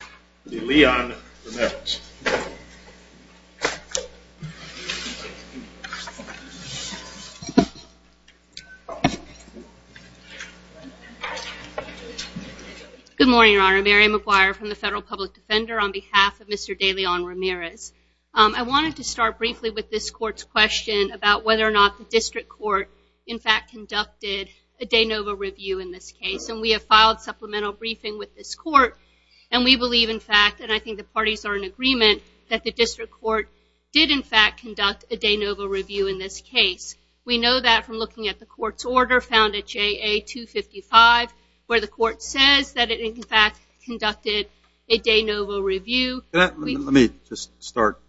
Good morning, Your Honor. Mary McGuire from the Federal Public Defender on behalf of Mr. De Leon-Ramirez. I wanted to start briefly with this court's question about whether or not the district court in fact conducted a de novo review in this case and we have filed supplemental briefing with this fact and I think the parties are in agreement that the district court did in fact conduct a de novo review in this case. We know that from looking at the court's order found at JA 255 where the court says that it in fact conducted a de novo review. Let me just start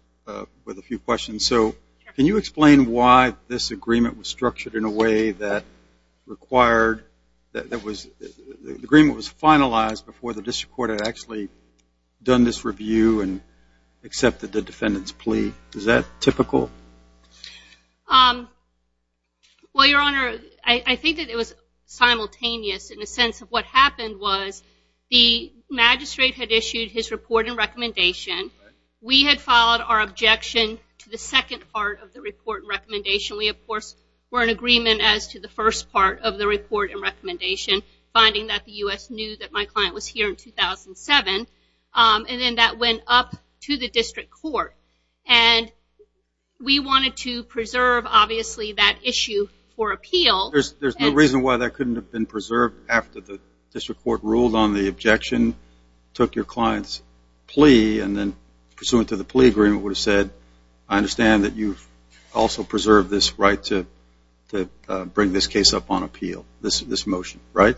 with a few questions. So can you explain why this agreement was structured in a way that required that was the agreement was done this review and accepted the defendant's plea? Is that typical? Well Your Honor, I think that it was simultaneous in the sense of what happened was the magistrate had issued his report and recommendation. We had followed our objection to the second part of the report and recommendation. We of course were in agreement as to the first part of the report and then that went up to the district court and we wanted to preserve obviously that issue for appeal. There's no reason why that couldn't have been preserved after the district court ruled on the objection, took your client's plea and then pursuant to the plea agreement would have said I understand that you've also preserved this right to bring this case up on appeal. This is this motion right?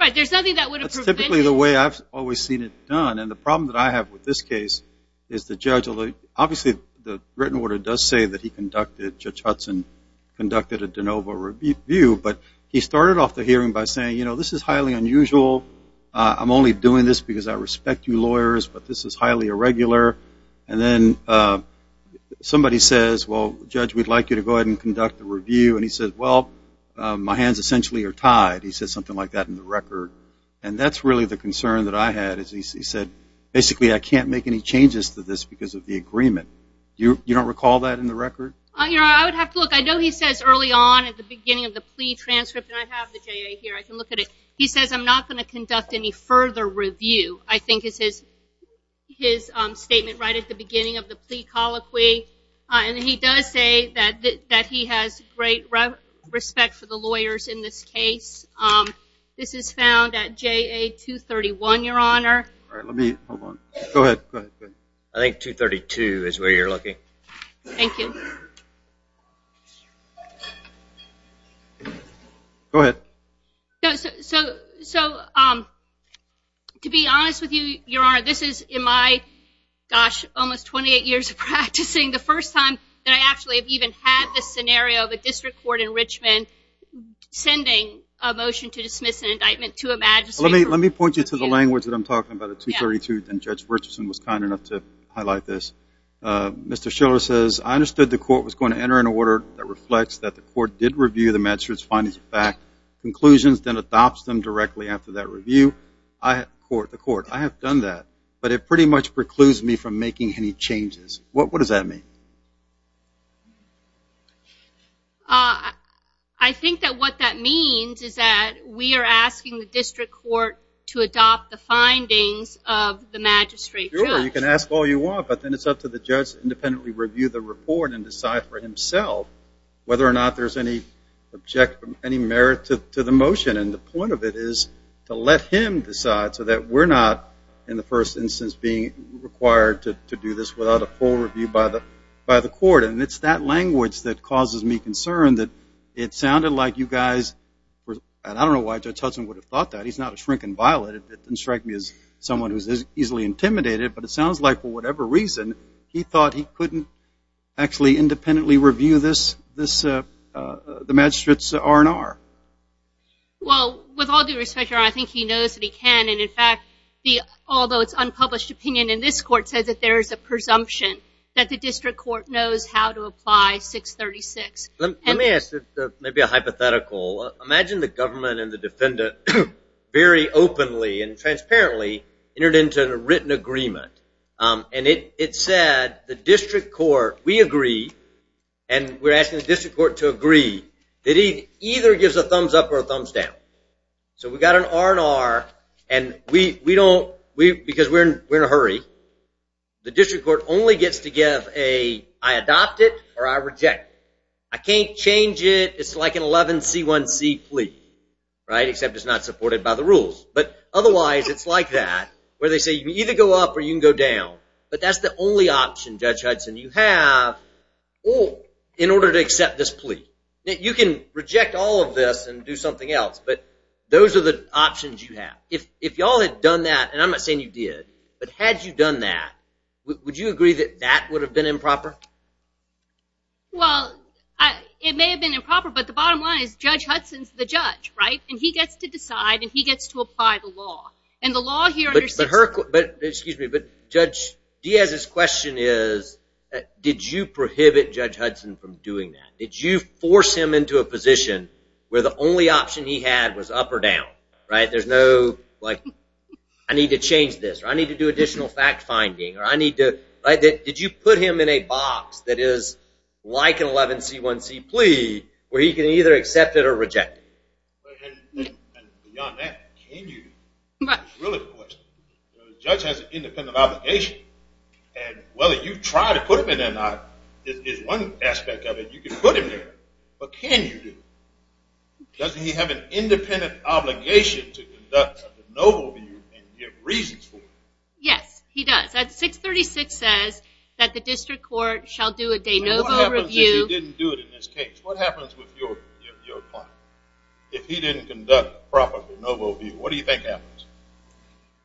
Right, there's nothing that would have prevented it. That's typically the way I've always seen it done and the problem that I have with this case is the judge although obviously the written order does say that he conducted, Judge Hudson conducted a de novo review but he started off the hearing by saying you know this is highly unusual. I'm only doing this because I respect you lawyers but this is highly irregular and then somebody says well judge we'd like you to go ahead and conduct the review and he said well my hands essentially are tied. He said something like that in the record and that's really the concern that I had is he said basically I can't make any changes to this because of the agreement. You don't recall that in the record? I would have to look I know he says early on at the beginning of the plea transcript and I have the JA here I can look at it. He says I'm not going to conduct any further review I think is his his statement right at the beginning of the plea colloquy and he does say that that he has great respect for the lawyers in this case. This is found at JA 231 your honor. I think 232 is where you're looking. Thank you. Go ahead. So to be honest with you your honor this is in my gosh almost 28 years of practicing the first time that I actually have even had this scenario of a district court in Let me point you to the language that I'm talking about at 232 and Judge Richardson was kind enough to highlight this. Mr. Schiller says I understood the court was going to enter an order that reflects that the court did review the magistrate's findings back conclusions then adopts them directly after that review. The court I have done that but it pretty much precludes me from making any changes. What does that mean? I think that what that means is that we are asking the district court to adopt the findings of the magistrate. You can ask all you want but then it's up to the judge independently review the report and decide for himself whether or not there's any objection any merit to the motion and the point of it is to let him decide so that we're not in the first instance being required to do this without a full review by the by the court and it's that language that causes me concern that it sounded like you guys and I don't know why Judge Hudson would have thought that he's not a shrinking violet it didn't strike me as someone who's easily intimidated but it sounds like for whatever reason he thought he couldn't actually independently review this this the magistrate's R&R. Well with all due respect I think he knows that he can and in fact the although it's unpublished opinion in this court said that there is a presumption that the district court knows how to apply 636. Let me ask maybe a hypothetical imagine the government and the defendant very openly and transparently entered into a written agreement and it said the district court we agree and we're asking the district court to agree that he either gives a thumbs up or a thumbs down so we got an R&R and we we don't we because we're in we're in a hurry the district court only gets to give a I adopt it or I reject I can't change it it's like an 11 c1c plea right except it's not supported by the rules but otherwise it's like that where they say you either go up or you can go down but that's the only option Judge Hudson you have or in order to accept this plea that you can reject all of this and do something else but those are the options you have if if y'all had done that and I'm not saying you did but had you done that would you agree that that would have been improper well I it may have been improper but the bottom line is Judge Hudson's the judge right and he gets to decide and he gets to apply the law and the law here but her but excuse me but judge Diaz his question is did you prohibit Judge Hudson from doing that did you force him into a position where the only option he had was up or down right there's no like I need to change this or I need to do additional fact-finding or I need to write that did you put him in a box that is like an 11 c1c plea where he can either accept it or reject it well you try to put him in and I is one aspect of it you can put him there but can you doesn't he have an independent obligation to conduct the reasons for yes he does that 636 says that the district court shall do a day no review didn't do it in this case what happens with your if he didn't conduct properly noble view what do you think happens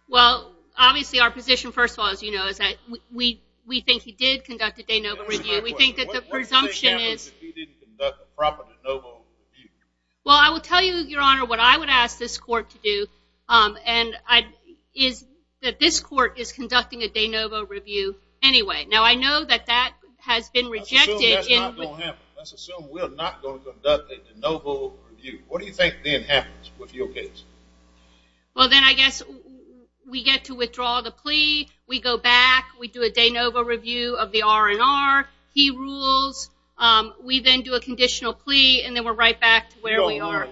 well obviously our position first of all as you know is that we we think he did conduct a day no but we think that the presumption is well I will tell you your honor what I would ask this court to do and I is that this court is conducting a de novo review anyway now I know that that has been rejected what do you think then happens with your case well then I guess we get to withdraw the plea we go back we do a de novo review of the R&R he rules we then do a conditional plea and then we're right back to where we are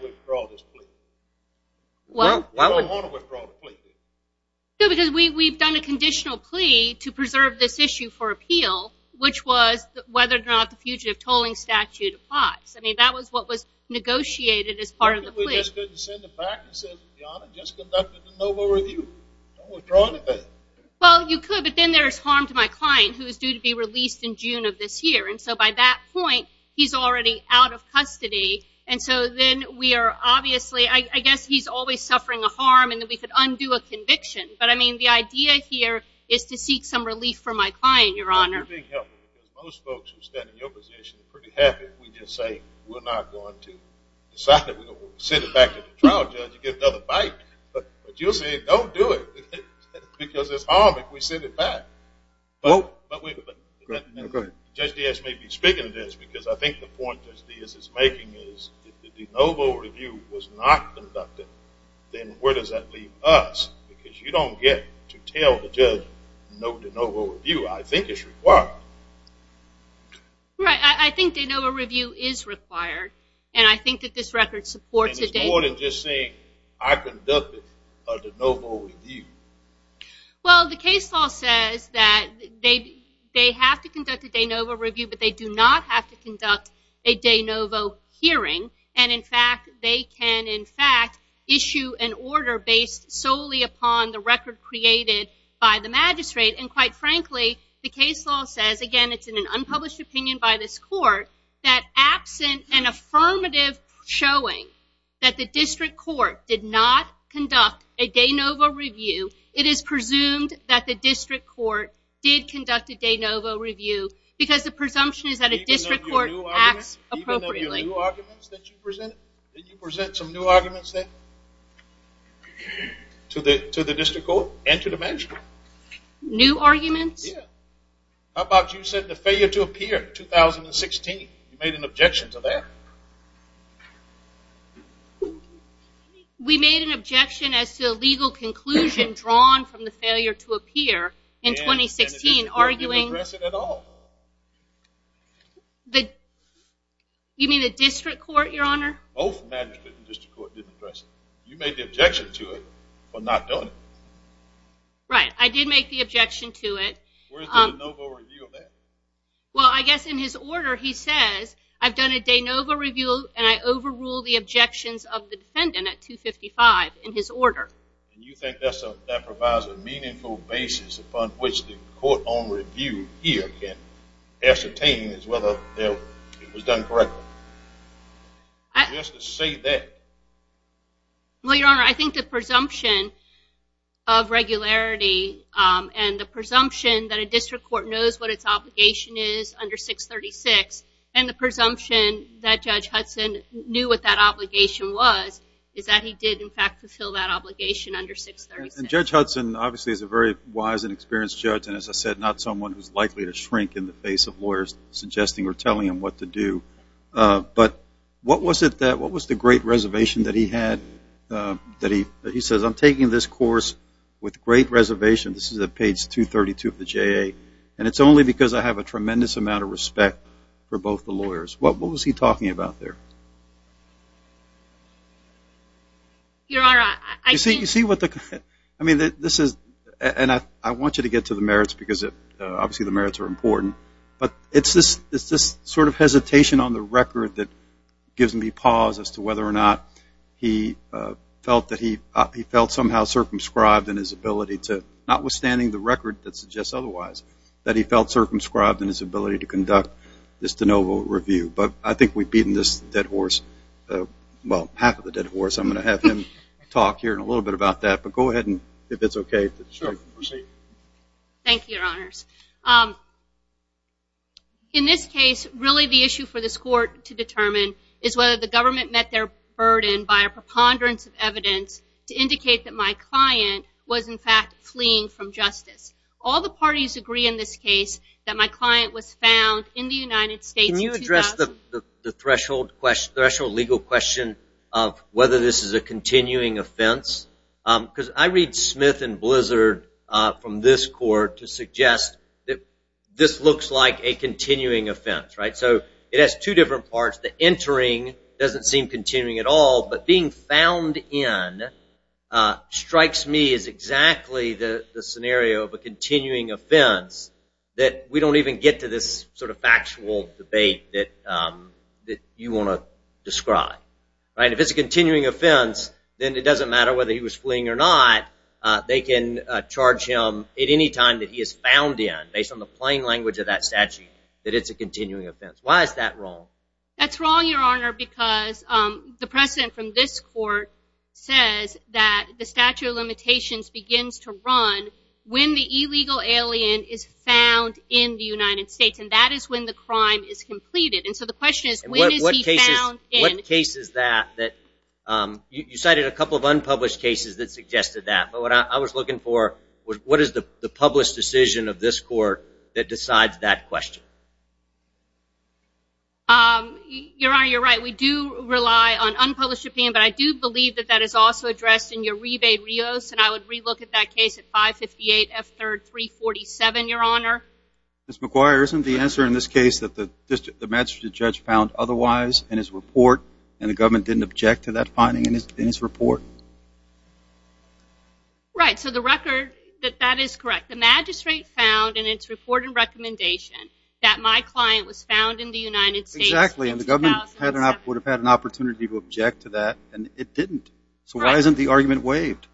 well because we've done a conditional plea to preserve this issue for appeal which was whether or not the fugitive tolling statute applies I mean that was what was negotiated as part of the well you could but then there's harm to my client who is due to be released in June of this year and so by that point he's already out of custody and so then we are obviously I guess he's always suffering a harm and then we could undo a conviction but I mean the idea here is to seek some relief for my client your oh just yes maybe speaking of this because I think the point is this is making is the de novo review was not conducted then where does that leave us because you don't get to tell the judge no de novo review I think it's required right I think they know a review is required and I think that this record supports it more than just saying I conducted a de novo review well the case law says that they they have to conduct a de novo review but they do not have to conduct a de novo hearing and in fact they can in fact issue an order based solely upon the record created by the magistrate and quite frankly the case law says again it's in an unpublished opinion by this court that absent an affirmative showing that the district court did not conduct a de novo review it is presumed that the district court did conduct a de novo review because the presumption is that a district court acts appropriately you present some new arguments that to the to the district court and to the magistrate new arguments about you said the failure to appear 2016 you made an objection to we made an objection as to a legal conclusion drawn from the failure to appear in 2016 arguing the you mean the district court your honor you made the objection to it but not done right I did make the objection to it well I guess in his order he says I've done a de novo review and I overrule the objections of the defendant at 255 in his order you think that's a that provides a meaningful basis upon which the court on review here can ascertain is whether it was done correctly I just say that well your honor I think the presumption of regularity and the presumption that a district court knows what its obligation is under 636 and the presumption that judge Hudson knew what that obligation was is that he did in fact fulfill that obligation under 636 judge Hudson obviously is a very wise and experienced judge and as I said not someone who's likely to shrink in the face of lawyers suggesting or telling him what to do but what was it that what was the great reservation that he had that he he says I'm taking this course with great reservation this is a page 232 of the tremendous amount of respect for both the lawyers what was he talking about there your honor I see you see what the I mean that this is and I want you to get to the merits because it obviously the merits are important but it's this it's this sort of hesitation on the record that gives me pause as to whether or not he felt that he he felt somehow circumscribed in his ability to not withstanding the record that suggests otherwise that he felt circumscribed in his ability to conduct this de novo review but I think we've beaten this dead horse well half of the dead horse I'm going to have him talk here in a little bit about that but go ahead and if it's okay sure thank you your honors in this case really the issue for this court to determine is whether the government met their burden by a preponderance of evidence to indicate that my client was in fact fleeing from justice all the parties agree in this case that my client was found in the United States can you address the threshold question threshold legal question of whether this is a continuing offense because I read Smith and blizzard from this court to suggest that this looks like a continuing offense right so it has two different parts the entering doesn't seem continuing at all but being found in strikes me is exactly the the scenario of a continuing offense that we don't even get to this sort of factual debate that that you want to describe right if it's a continuing offense then it doesn't matter whether he was fleeing or not they can charge him at any time that he is found in based on the plain language of that statute that it's a continuing offense why is that wrong that's wrong your honor because the precedent from this court says that the statute of limitations begins to run when the illegal alien is found in the United States and that is when the crime is completed and so the question is what is he found in cases that that you cited a couple of unpublished cases that suggested that but what I was looking for was what is the the published decision of this court that decides that question your honor you're right we do rely on unpublished opinion but I do believe that that is also addressed in your rebate Rios and I would relook at that case at 558 F 3rd 347 your honor miss McGuire isn't the answer in this case that the magistrate judge found otherwise in his report and the government didn't object to that finding in his report right so the record that that is correct the magistrate found in its report and recommendation that my client was found in the United States actually in the government had an op would have had an opportunity to object to that and it didn't so why isn't the argument waived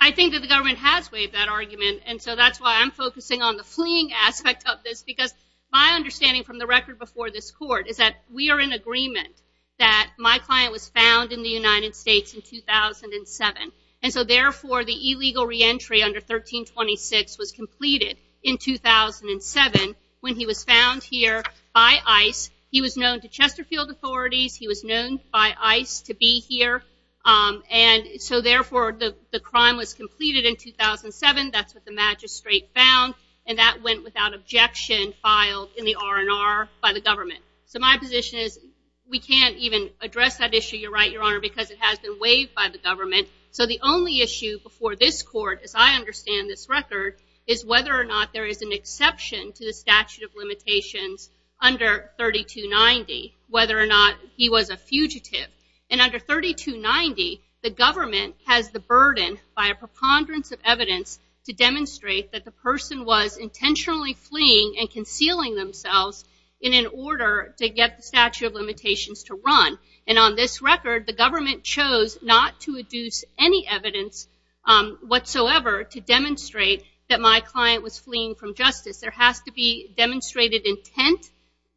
I think that the government has waived that argument and so that's why I'm focusing on the fleeing aspect of this because my understanding from the record before this court is that we are in agreement that my client was found in the United States in 2007 and so therefore the illegal reentry under 1326 was completed in 2007 when he was found here by ice he was known to Chesterfield authorities he was known by ice to be here and so therefore the crime was completed in 2007 that's what the magistrate found and that went without objection filed in the R&R by the government so my position is we can't even address that issue you're right your honor because it has been waived by the government so the only issue before this court as I understand this record is whether or not there is an exception to the statute of limitations under 3290 whether or not he was a fugitive and under 3290 the government has the burden by a preponderance of evidence to demonstrate that the person was intentionally fleeing and concealing themselves in an order to get the statute of limitations to run and on this record the government chose not to reduce any evidence whatsoever to demonstrate that my client was fleeing from justice there has to be demonstrated intent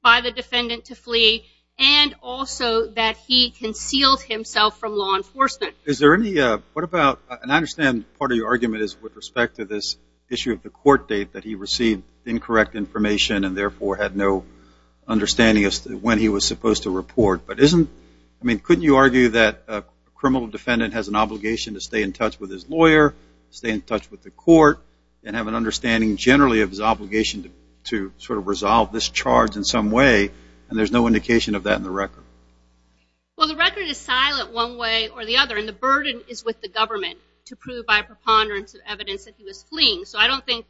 by the defendant to flee and also that he concealed himself from law enforcement is there any what about and I understand part of your with respect to this issue of the court date that he received incorrect information and therefore had no understanding of when he was supposed to report but isn't I mean couldn't you argue that a criminal defendant has an obligation to stay in touch with his lawyer stay in touch with the court and have an understanding generally of his obligation to sort of resolve this charge in some way and there's no indication of that in the record well the record is silent one way or the other and the burden is with the evidence that he was fleeing so I don't think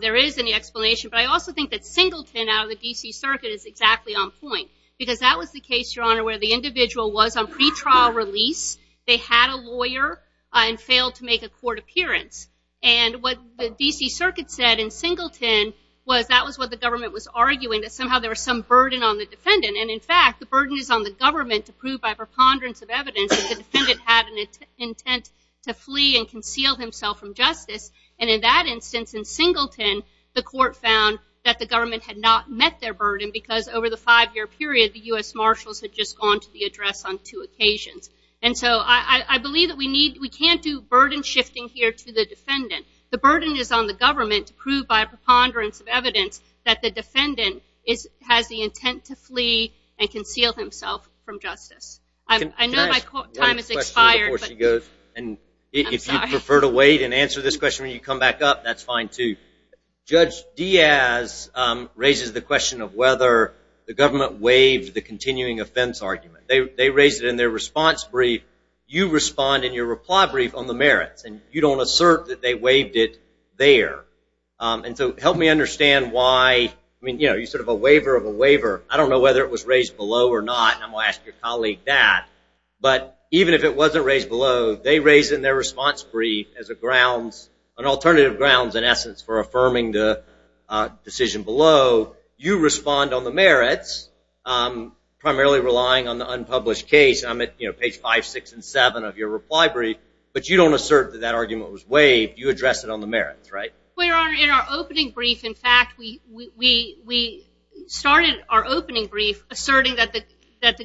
there is any explanation but I also think that Singleton out of the DC Circuit is exactly on point because that was the case your honor where the individual was on pretrial release they had a lawyer and failed to make a court appearance and what the DC Circuit said in Singleton was that was what the government was arguing that somehow there was some burden on the defendant and in fact the burden is on the government to prove by preponderance of evidence if the defendant had an intent to flee and conceal himself from justice and in that instance in Singleton the court found that the government had not met their burden because over the five-year period the US Marshals had just gone to the address on two occasions and so I believe that we need we can't do burden shifting here to the defendant the burden is on the government to prove by preponderance of evidence that the defendant is has the intent to flee and conceal himself from and if you prefer to wait and answer this question when you come back up that's fine too judge Diaz raises the question of whether the government waived the continuing offense argument they raised it in their response brief you respond in your reply brief on the merits and you don't assert that they waived it there and so help me understand why I mean you know you sort of a waiver of a waiver I don't know whether it was raised below or not I'm even if it wasn't raised below they raise in their response brief as a grounds an alternative grounds in essence for affirming the decision below you respond on the merits primarily relying on the unpublished case I'm at you know page five six and seven of your reply brief but you don't assert that that argument was waived you address it on the merits right we are in our opening brief in fact we we started our opening brief asserting that the that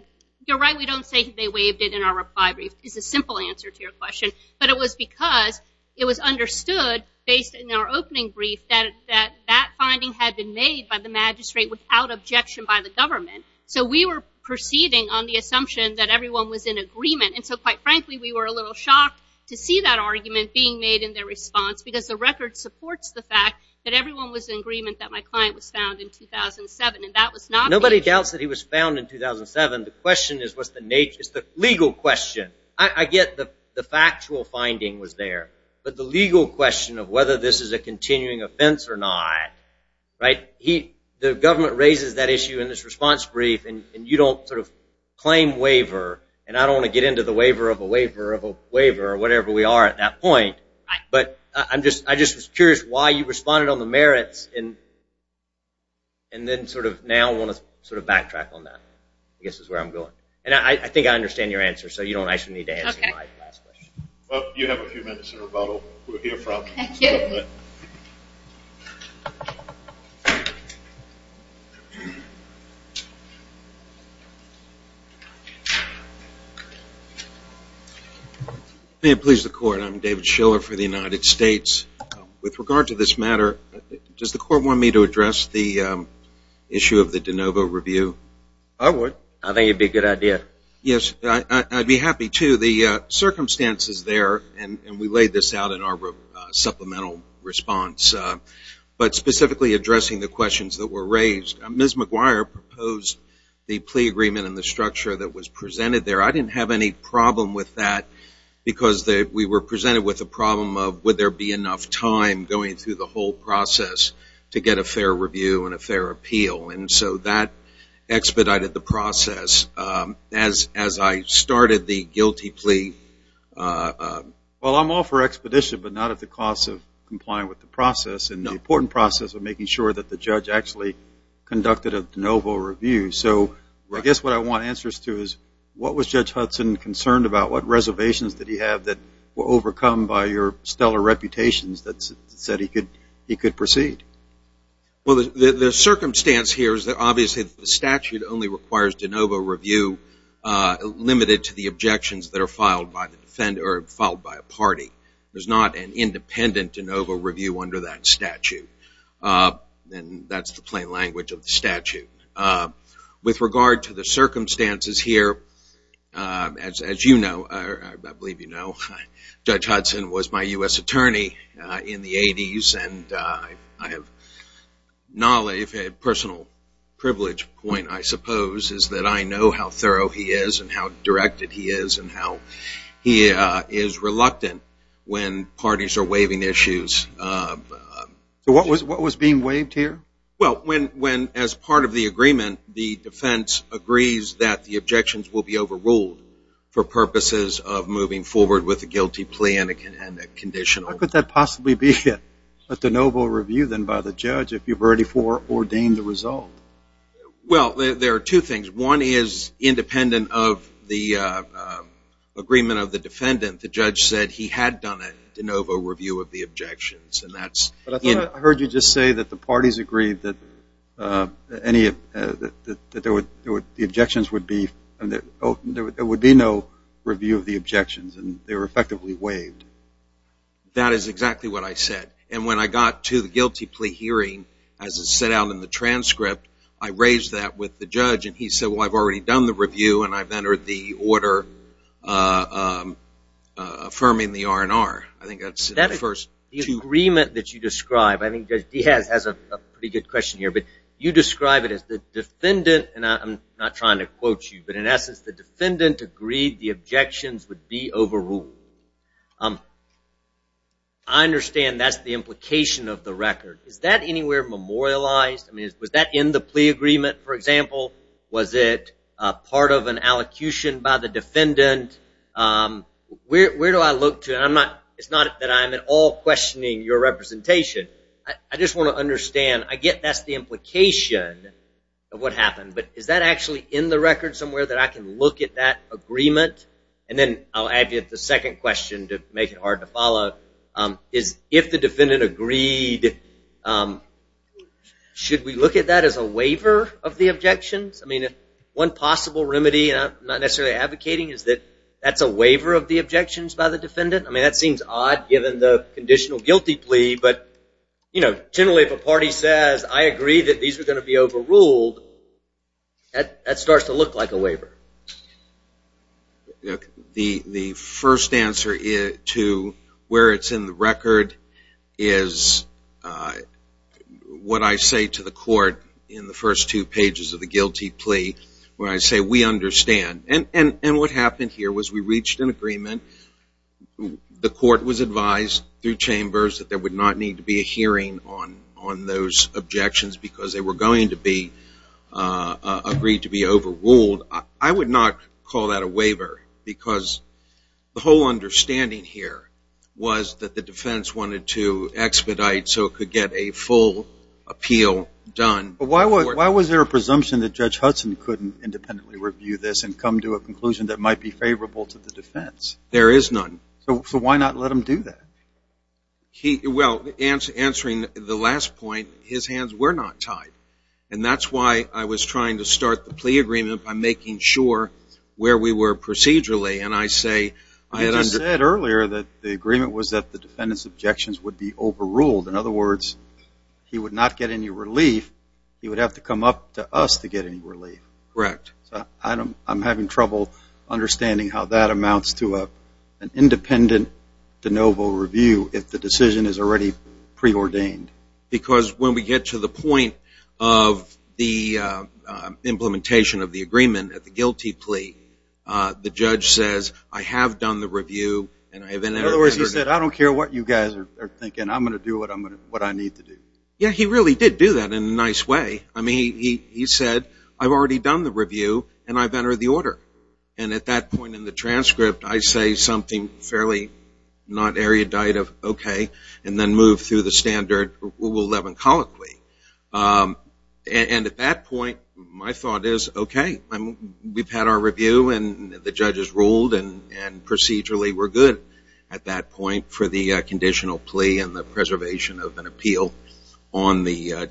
you're right we don't say they waived it in our reply brief is a simple answer to your question but it was because it was understood based in our opening brief that that that finding had been made by the magistrate without objection by the government so we were proceeding on the assumption that everyone was in agreement and so quite frankly we were a little shocked to see that argument being made in their response because the record supports the fact that everyone was in agreement that my client was found in 2007 and that was nobody doubts that he was found in 2007 the question is what's the nature is the legal question I get the the factual finding was there but the legal question of whether this is a continuing offense or not right he the government raises that issue in this response brief and you don't sort of claim waiver and I don't want to get into the waiver of a waiver of a waiver or whatever we are at that point but I'm just I just was curious why you responded on the merits in and then sort of now want to sort of backtrack on that I guess is where I'm going and I think I understand your answer so you don't actually need to answer my last question. Well you have a few minutes of rebuttal we'll hear from the government. May it please the court I'm David Schiller for the United States with regard to this matter does the court want me to address the issue of the de novo review I would I think it'd be a good idea yes I'd be happy to the circumstances there and we laid this out in our supplemental response but specifically addressing the questions that were raised Ms. McGuire proposed the plea agreement in the structure that was presented there I didn't have any problem with that because that we were presented with a problem of would there be enough time going through the whole process to get a fair review and a fair appeal and so that expedited the process as as I started the guilty plea well I'm all for expedition but not at the cost of complying with the process and the important process of making sure that the judge actually conducted a de novo review so I guess what I want answers to is what was Judge Hudson concerned about what reservations that he had that were overcome by your stellar reputations that said he could he could proceed well the circumstance here is that obviously the statute only requires de novo review limited to the objections that are filed by the defender filed by a party there's not an independent de novo review under that statute and that's the plain language of the statute with regard to the circumstances here as you know I believe you know Judge Hudson was my US attorney in the 80s and I have knowledge had personal privilege point I suppose is that I know how thorough he is and how directed he is and how he is reluctant when parties are waiving issues what was what was being waived here well when when as part of the agreement the defense agrees that the objections will be overruled for purposes of moving forward with a guilty plea and a conditional could that possibly be a de novo review then by the judge if you've already for ordained the result well there are two things one is independent of the agreement of the defendant the judge said he had done it de novo review of the objections and that's I heard you just say that the parties agreed that any of the objections would be and that there would be no review of the objections and they were effectively waived that is exactly what I said and when I got to the guilty plea hearing as it set out in the transcript I raised that with the judge and he said well I've already done the review and I've entered the order affirming the R&R I describe I think he has a pretty good question here but you describe it as the defendant and I'm not trying to quote you but in essence the defendant agreed the objections would be overruled I understand that's the implication of the record is that anywhere memorialized I mean was that in the plea agreement for example was it part of an allocution by the defendant where do I look to and I'm it's not that I'm at all questioning your representation I just want to understand I get that's the implication of what happened but is that actually in the record somewhere that I can look at that agreement and then I'll add you at the second question to make it hard to follow is if the defendant agreed should we look at that as a waiver of the objections I mean if one possible remedy not necessarily advocating is that that's a waiver of the objections by the seems odd given the conditional guilty plea but you know generally if a party says I agree that these are going to be overruled at that starts to look like a waiver the the first answer is to where it's in the record is what I say to the court in the first two pages of the guilty plea where I say we understand and and and what happened here was we reached an agreement the court was advised through chambers that there would not need to be a hearing on on those objections because they were going to be agreed to be overruled I would not call that a waiver because the whole understanding here was that the defense wanted to expedite so it could get a full appeal done but why was why was there a presumption that judge Hudson couldn't independently review this and come to a conclusion that might be favorable to the defense there is none so why not let him do that he well answer answering the last point his hands were not tied and that's why I was trying to start the plea agreement by making sure where we were procedurally and I say I had under said earlier that the agreement was that the defendants objections would be overruled in other words he would not get any relief he would have to come up to us to get any correct I don't I'm having trouble understanding how that amounts to a independent de novo review if the decision is already preordained because when we get to the point of the implementation of the agreement at the guilty plea the judge says I have done the review and I have in other words he said I don't care what you guys are thinking I'm gonna do what I'm gonna what I need to do yeah he really did do that in a nice way I mean he he said I already done the review and I've entered the order and at that point in the transcript I say something fairly not erudite of okay and then move through the standard rule 11 colloquy and at that point my thought is okay I'm we've had our review and the judges ruled and and procedurally we're good at that point for the conditional plea and the preservation of an appeal on the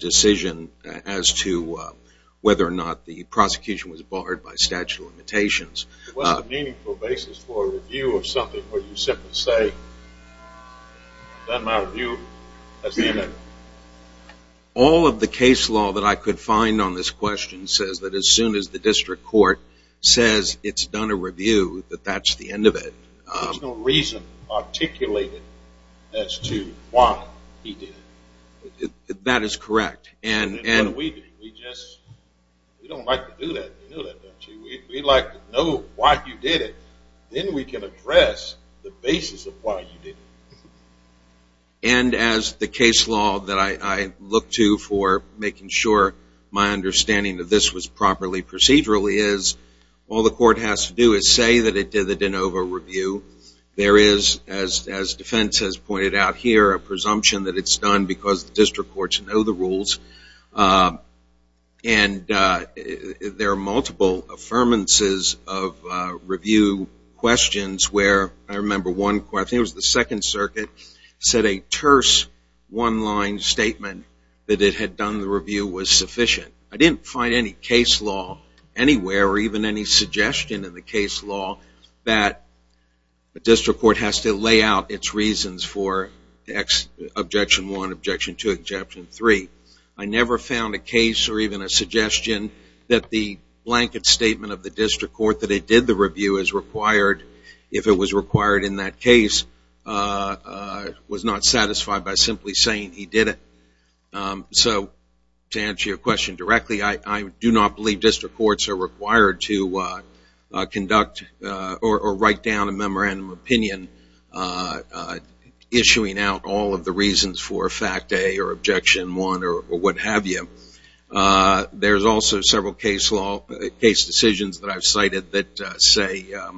prosecution was barred by statute of limitations you or something or you simply say that my view has been all of the case law that I could find on this question says that as soon as the district court says it's done a review that that's the end of it there's no reason articulated as to why he did it that is correct and and we just don't like to do that we'd like to know why you did it then we can address the basis of why you did and as the case law that I look to for making sure my understanding of this was properly procedurally is all the court has to do is say that it did the de novo review there is as defense has pointed out here a presumption that it's done because the district courts know the rules and there are multiple affirmances of review questions where I remember one question was the Second Circuit said a terse one-line statement that it had done the review was sufficient I didn't find any case law anywhere even any suggestion in the case law that the district court has to lay out its reasons for X objection one objection to exception three I never found a case or even a suggestion that the blanket statement of the district court that it did the review is required if it was required in that case was not satisfied by simply saying he did it so to answer your question directly I do not believe district courts are required to conduct or write down a memorandum of opinion issuing out all of the reasons for a fact a or objection one or what have you there's also several case law case decisions that I've cited that say a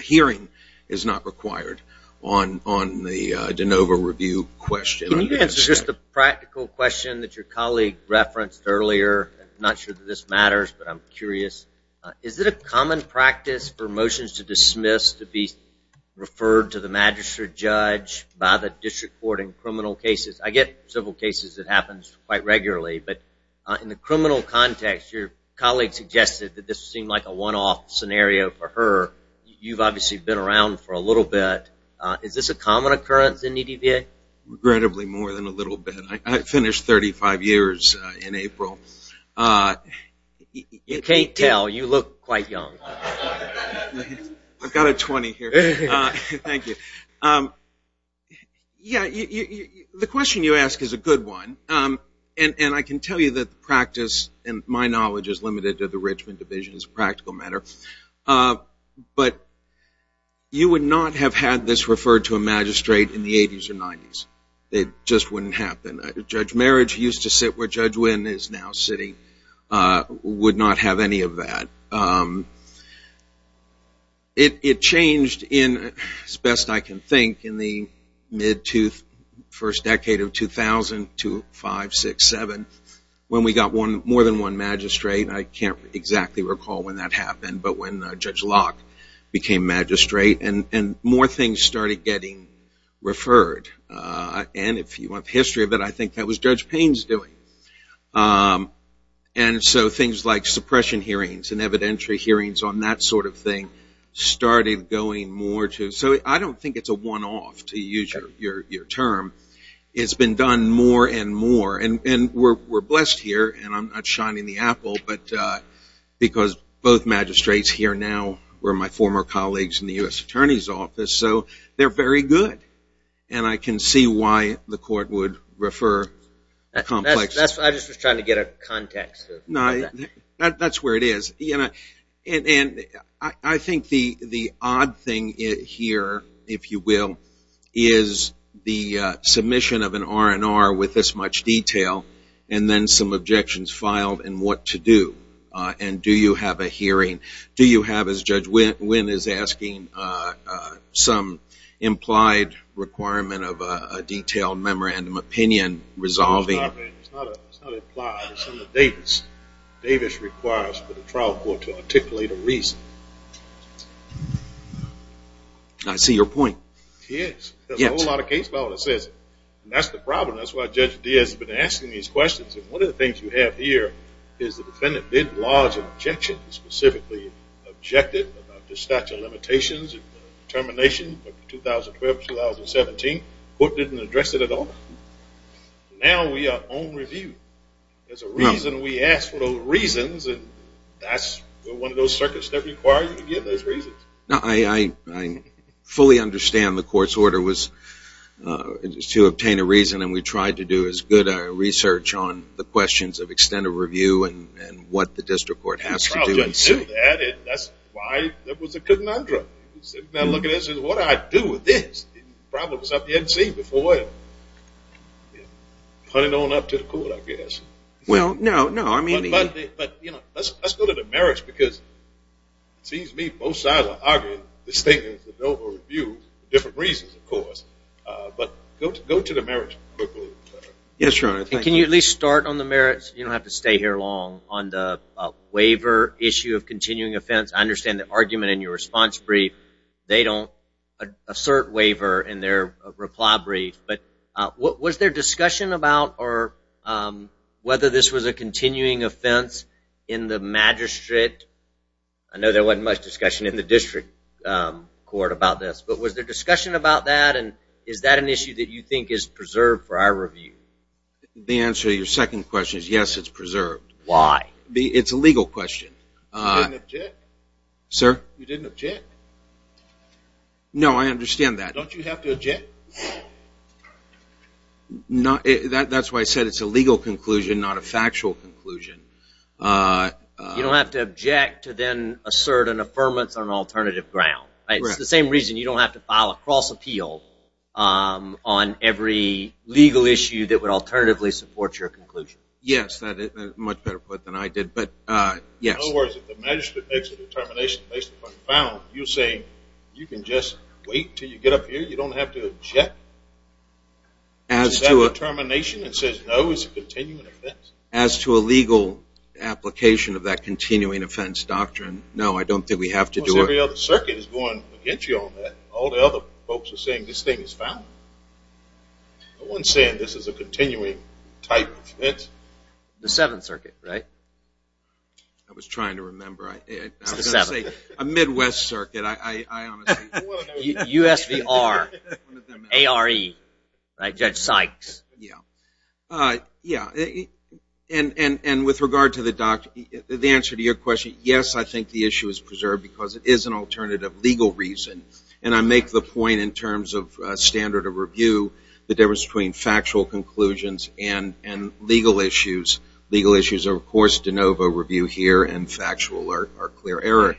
hearing is not required on on the de novo review question it's just a practical question that your colleague referenced earlier not sure that this matters but I'm curious is it a common practice for motions to dismiss to be referred to the magistrate judge by the district court in criminal cases I get several cases that happens quite regularly but in the criminal context your colleague suggested that this seemed like a one-off scenario for her you've obviously been around for a little bit is this a common occurrence in EDVA regrettably more than a little bit I in April you can't tell you look quite young I've got a 20 here yeah the question you ask is a good one and and I can tell you that the practice and my knowledge is limited to the Richmond division is practical matter but you would not have had this referred to a magistrate in the 80s or 90s they just wouldn't happen judge marriage used to sit where judge win is now sitting would not have any of that it changed in as best I can think in the mid to first decade of 2002 five six seven when we got one more than one magistrate I can't exactly recall when that happened but when judge Locke became magistrate and if you want history of it I think that was judge pains doing and so things like suppression hearings and evidentiary hearings on that sort of thing started going more to so I don't think it's a one-off to use your term it's been done more and more and we're blessed here and I'm not shining the Apple but because both magistrates here now where my former colleagues in the US Attorney's the court would refer that's where it is and I think the odd thing here if you will is the submission of an R&R with this much detail and then some objections filed and what to do and do you have a hearing do you have as judge memory and opinion resolving Davis Davis requires for the trial court to articulate a reason I see your point yes a lot of case law that says that's the problem that's why judge Diaz has been asking these questions and one of the things you have here is the defendant did large objection specifically objective the statute of limitations termination 2012 2017 what didn't address it at all now we are on review there's a reason we asked for those reasons and that's one of those circuits that require you to give those reasons now I fully understand the court's order was to obtain a reason and we tried to do as good a research on the questions of extended review and what the district court has to do that's why that was a good mantra now look at this is what I do with this problems up yet see before it put it on up to the court I guess well no no I mean but but you know let's go to the merits because sees me both sides I argue this thing is the Dover view different reasons of course but go to go to the marriage yes your honor can you at least start on the merits you have to stay here long on the waiver issue of continuing offense I understand the argument in your response brief they don't assert waiver in their reply brief but what was their discussion about or whether this was a continuing offense in the magistrate I know there wasn't much discussion in the district court about this but was there discussion about that and is that an issue that you think is preserved for our review the answer your second question is yes it's preserved why be it's a legal question sir you didn't object no I understand that don't you have to object not that that's why I said it's a legal conclusion not a factual conclusion you don't have to object to then assert an affirmance on alternative ground it's the same reason you don't have to file a cross appeal on every legal issue that would support your conclusion yes that is much better put than I did but yes you say you can just wait till you get up here you don't have to check as to a termination it says no it's a continuing offense as to a legal application of that continuing offense doctrine no I don't think we have to do every other circuit is going to get you all that all the other folks are saying this thing is I wouldn't say this is a continuing type it's the seventh circuit right I was trying to remember a Midwest circuit I USV are a re I judge Sykes yeah yeah and and and with regard to the doctor the answer to your question yes I think the issue is preserved because it is an alternative legal reason and I make the point in terms of standard of review the difference between factual conclusions and and legal issues legal issues are of course de novo review here and factual alert are clear error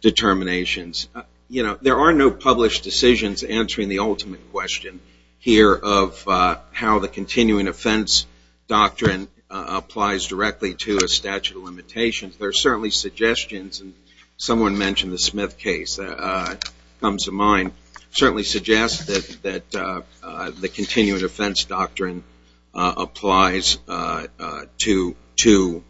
determinations you know there are no published decisions answering the ultimate question here of how the continuing offense doctrine applies directly to a statute of limitations there are certainly suggestions and someone mentioned the Smith case comes to mind certainly suggest that that the continuing offense doctrine applies to to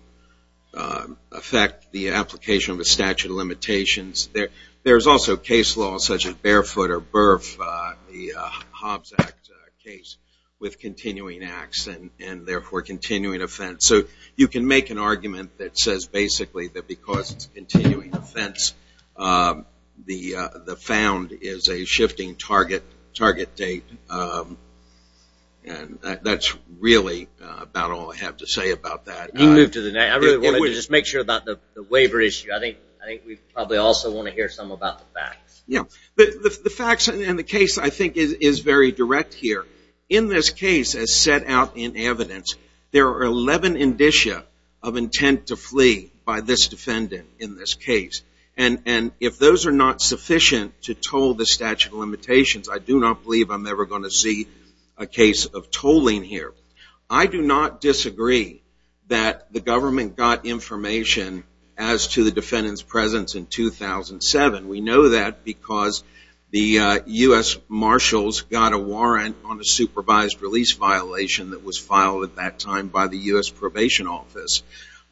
affect the application of a statute of limitations there there's also case law such as barefoot or birth the Hobbs Act case with continuing acts and and therefore continuing offense so you can make an argument that says basically that because it's continuing offense the the found is a shifting target target date and that's really about all I have to say about that you move to the night I really wanted to just make sure about the waiver issue I think I think we probably also want to hear some about the facts yeah but the facts and in the case I think is very direct here in this case as set out in evidence there are 11 indicia of intent to flee by this defendant in this case and and if those are not sufficient to told the statute of limitations I do not believe I'm never going to see a case of tolling here I do not disagree that the government got information as to the defendant's presence in 2007 we know that because the US Marshals got a warrant on a supervised release violation that was filed at that time by the US probation office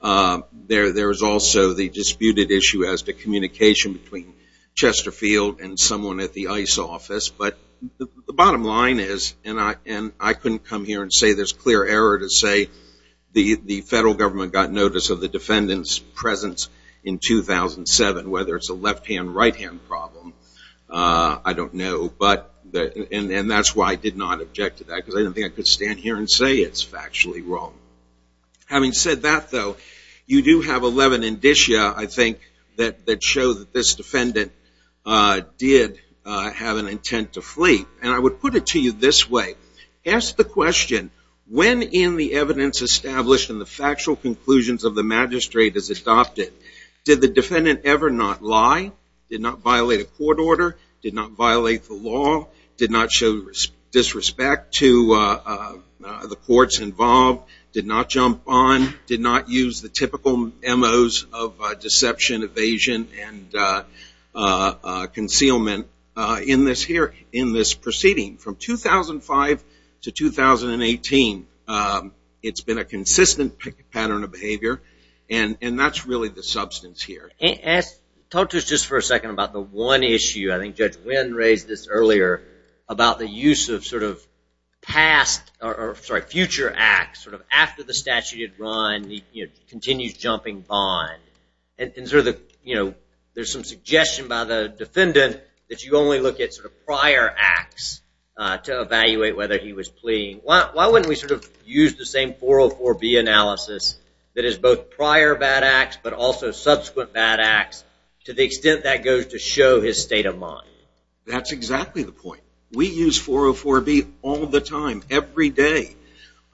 there there is also the disputed issue as to communication between Chesterfield and someone at the ice office but the bottom line is and I and I couldn't come here and say there's clear error to say the the federal government got notice of the defendant's presence in 2007 whether it's a left-hand right-hand problem I don't know but and that's why I did not object to that because I don't think I stand here and say it's actually wrong having said that though you do have 11 indicia I think that that shows this defendant did have an intent to flee and I would put it to you this way ask the question when in the evidence established in the factual conclusions of the magistrate is adopted did the defendant ever not lie did not violate a court order did not violate the law did not show disrespect to the courts involved did not jump on did not use the typical emos of deception evasion and concealment in this here in this proceeding from 2005 to 2018 it's been a consistent pattern of behavior and and that's really the substance here and talk to us just for a second about the one issue I think judge wind raised this earlier about the use of sort of past or sorry future acts sort of after the statute had run the continues jumping bond and through the you know there's some suggestion by the defendant that you only look at sort of prior acts to evaluate whether he was pleading why wouldn't we sort of use the same 404 B analysis that is both prior bad acts but also subsequent bad acts to the extent that goes to show his state of mind that's exactly the point we use 404 B all the time every day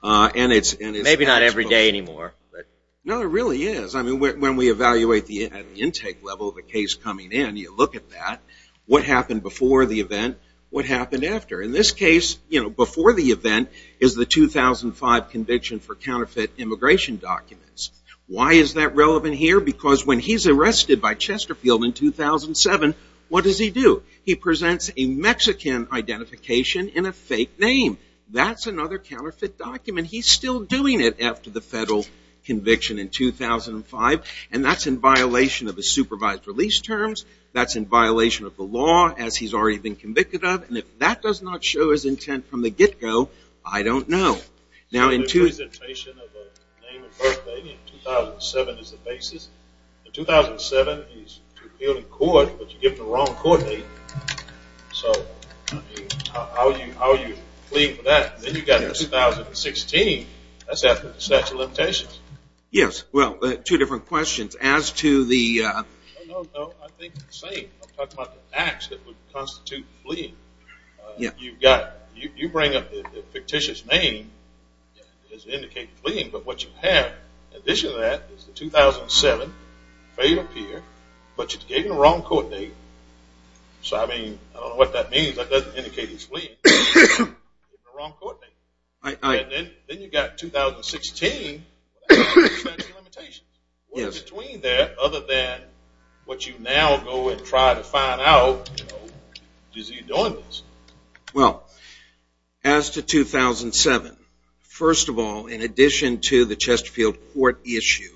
and it's maybe not every day anymore but no it really is I mean when we evaluate the intake level of the case coming in you look at that what happened before the event what happened after in this case you know before the event is the 2005 conviction for counterfeit immigration documents why is that relevant here because when he's arrested by Chesterfield in 2007 what does he do he presents a Mexican identification in a fake name that's another counterfeit document he's still doing it after the federal conviction in 2005 and that's in violation of the supervised release terms that's in violation of the law as he's already been convicted of and if that does not show his intent from the get-go I don't know now in 2007 in court but you get the wrong court date so how are you how are you fleeing for that then you got a 2016 that's after the statute of limitations yes well two different questions as to the you've got you bring up the fictitious name as indicated fleeing but what you have addition to that is the 2007 fail up here but you gave him the wrong court date so I mean I don't know what that means that doesn't indicate he's fleeing. Then you've got 2016. What is between that other than what you now go and try to find out is he doing this? Well as to 2007 first of all in addition to the Chesterfield court issue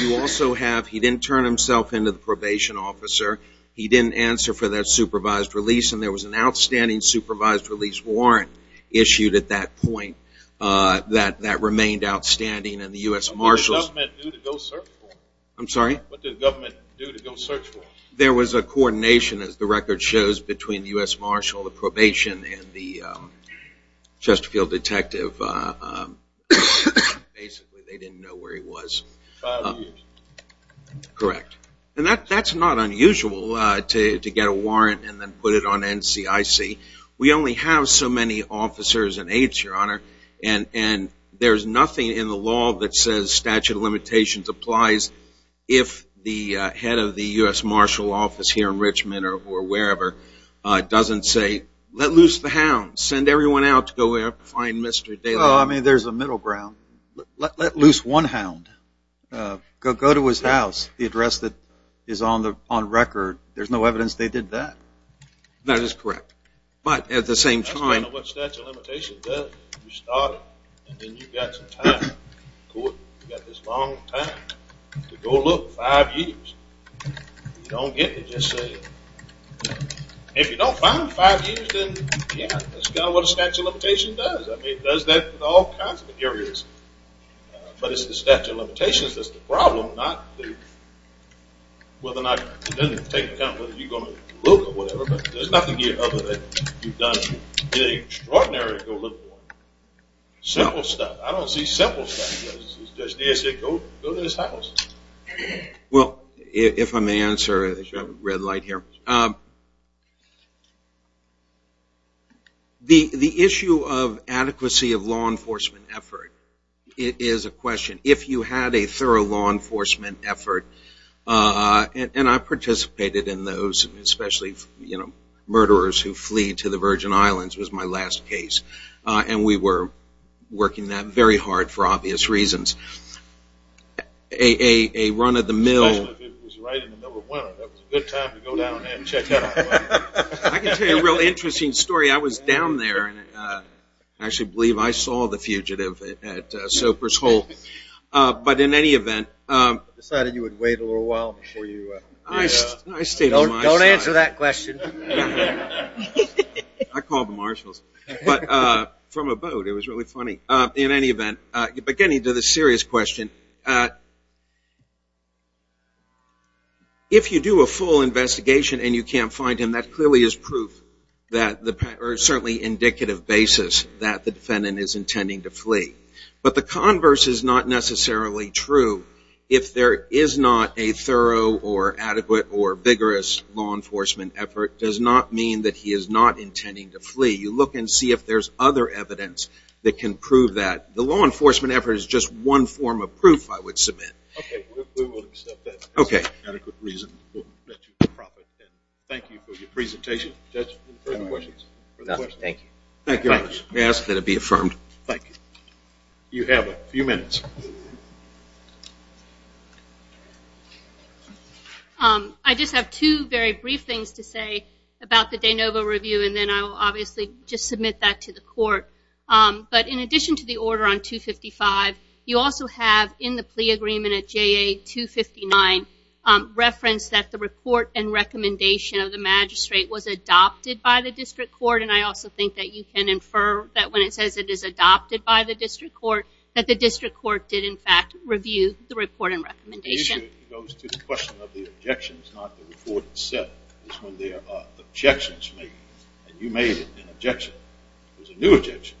you also have he didn't turn himself into the probation officer he didn't answer for that supervised release and there was an outstanding supervised release warrant issued at that point that that remained outstanding and the US Marshals I'm sorry there was a coordination as the record shows between the US Marshal the probation and the Chesterfield detective correct and that that's not unusual to get a warrant and then put it on NCIC we only have so many officers and aides your honor and and there's nothing in the law that says statute of limitations applies if the head of the US Marshal office here in doesn't say let loose the hound send everyone out to go find Mr. Dale I mean there's a middle ground let loose one hound go to his house the address that is on the on record there's no evidence they did that that is correct but at the five years then yeah that's got what a statute of limitations does I mean does that all kinds of areas but it's the statute of limitations that's the problem not the whether or not it doesn't take account whether you're going to look or whatever but there's nothing here other than you've done extraordinary simple stuff I don't see simple stuff just go to his house well if I may answer the issue of adequacy of law enforcement effort it is a question if you had a thorough law enforcement effort and I participated in those especially you know murderers who flee to the Virgin Islands was my last case and we were working that very hard for obvious reasons a run of the mill interesting story I was down there and actually believe I saw the fugitive at any event but getting to the serious question if you do a full investigation and you can't find him that clearly is proof that the certainly indicative basis that the defendant is intending to flee but the converse is not necessarily true if there is not a thorough or adequate or vigorous law mean that he is not intending to flee you look and see if there's other evidence that can prove that the law enforcement effort is just one form of proof I would submit okay thank you for your presentation thank you ask that it be affirmed thank you you have a few minutes I just have two very brief things to say about the day Nova review and then I obviously just submit that to the court but in addition to the order on 255 you also have in the plea agreement at JA 259 reference that the report and recommendation of the magistrate was adopted by the district court and I also think that you can infer that when it says it is adopted by the district court that the district court did in fact review the report and recommendation is when there are objections me and you made an objection there's a new objection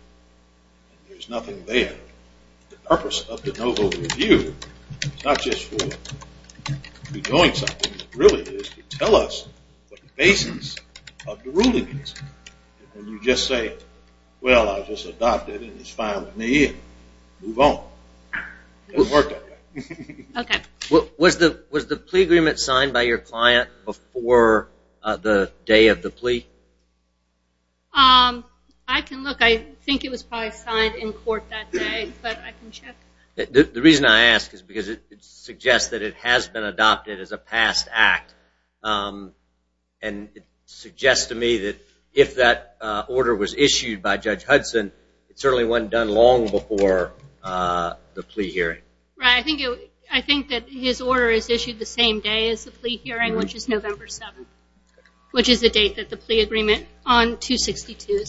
there's nothing there the purpose of the noble review not just for doing something really is to tell us what the basis of the ruling is and you just say well I was just adopted and it's fine with me move on okay what was the was the plea agreement signed by your client before the day of the plea um I can look I think it was probably signed in court that day but I can check the reason I ask is because it suggests that it has been adopted as a past act and suggest to me that if that order was issued by Judge Hudson it certainly wasn't done long before the plea hearing right I think I think that his order is issued the same day as the plea hearing which is November 7th which is the date that the plea agreement on 262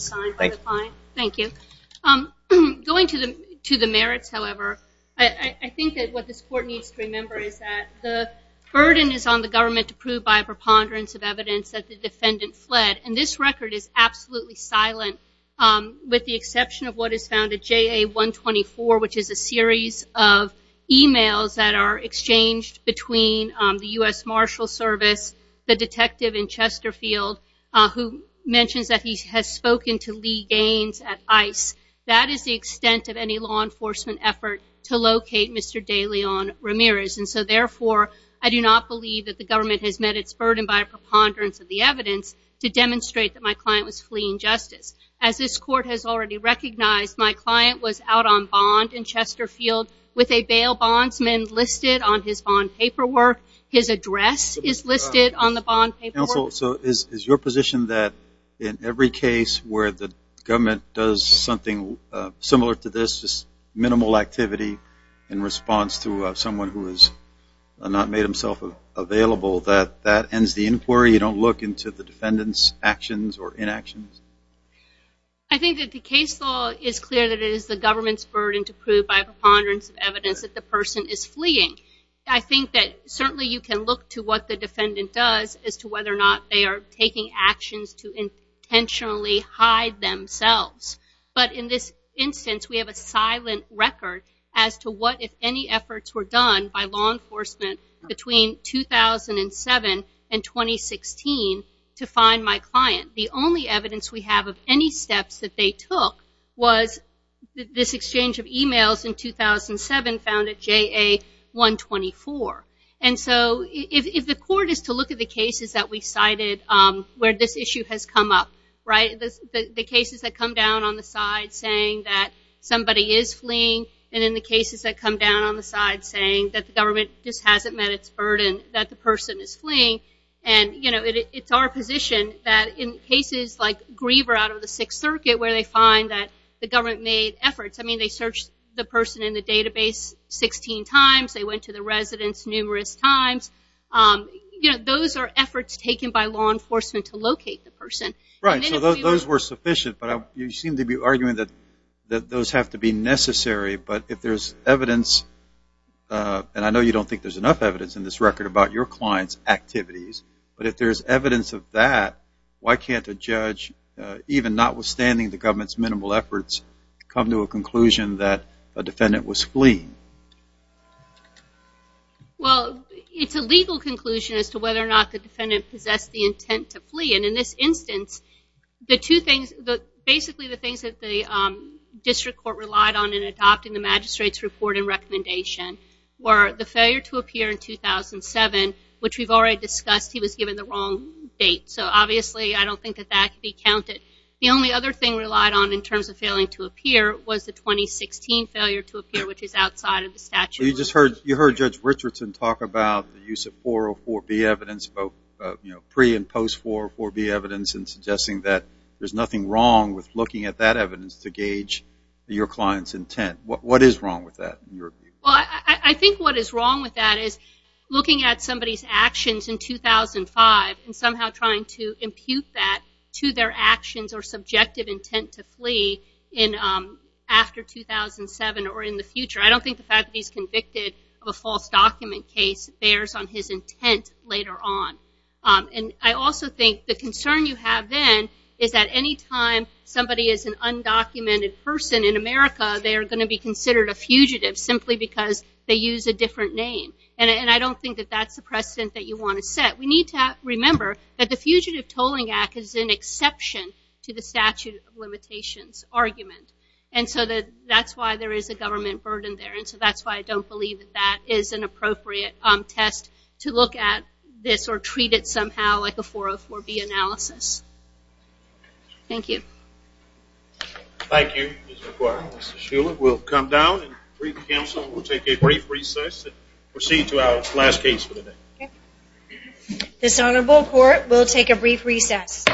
thank you I'm going to them to the merits however I think that what this court needs to remember is that the burden is on the government to prove by a preponderance of evidence that the defendant fled and this record is absolutely silent with the exception of what is found at JA 124 which is a series of emails that are exchanged between the US Marshals Service the detective in Chesterfield who mentions that he has spoken to Lee Gaines at ice that is the extent of any law enforcement effort to locate mr. Leon Ramirez and so therefore I do not believe that the government has met its burden by a preponderance of the evidence to demonstrate that my client was fleeing justice as this court has already recognized my client was out on bond in Chesterfield with a bail bondsman listed on his bond paperwork his address is listed on the bond paper so is your position that in every case where the government does something similar to this just minimal activity in response to someone who is not made himself available that that ends the inquiry you don't look into the defendants actions or inactions I think that the case law is clear that it is the government's burden to prove by preponderance of evidence that the person is fleeing I think that certainly you can look to what the defendant does as to whether or not they are taking actions to intentionally hide themselves but in this instance we have a silent record as to what if any efforts were done by law enforcement between 2007 and 2016 to find my client the only evidence we have of any steps that they took was this exchange of emails in 2007 found at JA 124 and so if the court is to look at the cases that we cited where this issue has come up right this the cases that come down on the side saying that somebody is fleeing and in the cases that come down on the side saying that the government just hasn't met its burden that the person is fleeing and you know it's our position that in cases like Griever out of the Sixth Circuit where they find that the government made efforts I mean they searched the person in the database 16 times they went to the residents numerous times you know those are efforts taken by law enforcement to locate the person right so those were sufficient but you seem to be arguing that that those have to be necessary but if there's evidence and I know you don't think there's enough evidence in this record about your clients activities but if there's evidence of that why can't a judge even notwithstanding the government's minimal efforts come to a conclusion that a defendant was fleeing well it's a legal conclusion as to whether or not the intent to flee and in this instance the two things that basically the things that the district court relied on in adopting the magistrates report and recommendation were the failure to appear in 2007 which we've already discussed he was given the wrong date so obviously I don't think that that be counted the only other thing relied on in terms of failing to appear was the 2016 failure to appear which is outside of the statute you just heard you heard Richardson talk about the use of 404 be evidence both you know pre and post for or be evidence in suggesting that there's nothing wrong with looking at that evidence to gauge your clients intent what what is wrong with that well I think what is wrong with that is looking at somebody's actions in 2005 and somehow trying to impute that to their actions or subjective intent to flee in after 2007 or in the future I don't think the fact that he's document case bears on his intent later on and I also think the concern you have then is that any time somebody is an undocumented person in America they are going to be considered a fugitive simply because they use a different name and I don't think that that's the precedent that you want to set we need to remember that the Fugitive Tolling Act is an exception to the statute of limitations argument and so that that's why there is a government burden there and so that's why I don't believe that is an appropriate test to look at this or treat it somehow like a 404B analysis. Thank you. Thank you Ms. McQuarrie. Ms. Shuler will come down and brief counsel. We'll take a brief recess and proceed to our last case for the day. This honorable court will take a brief recess.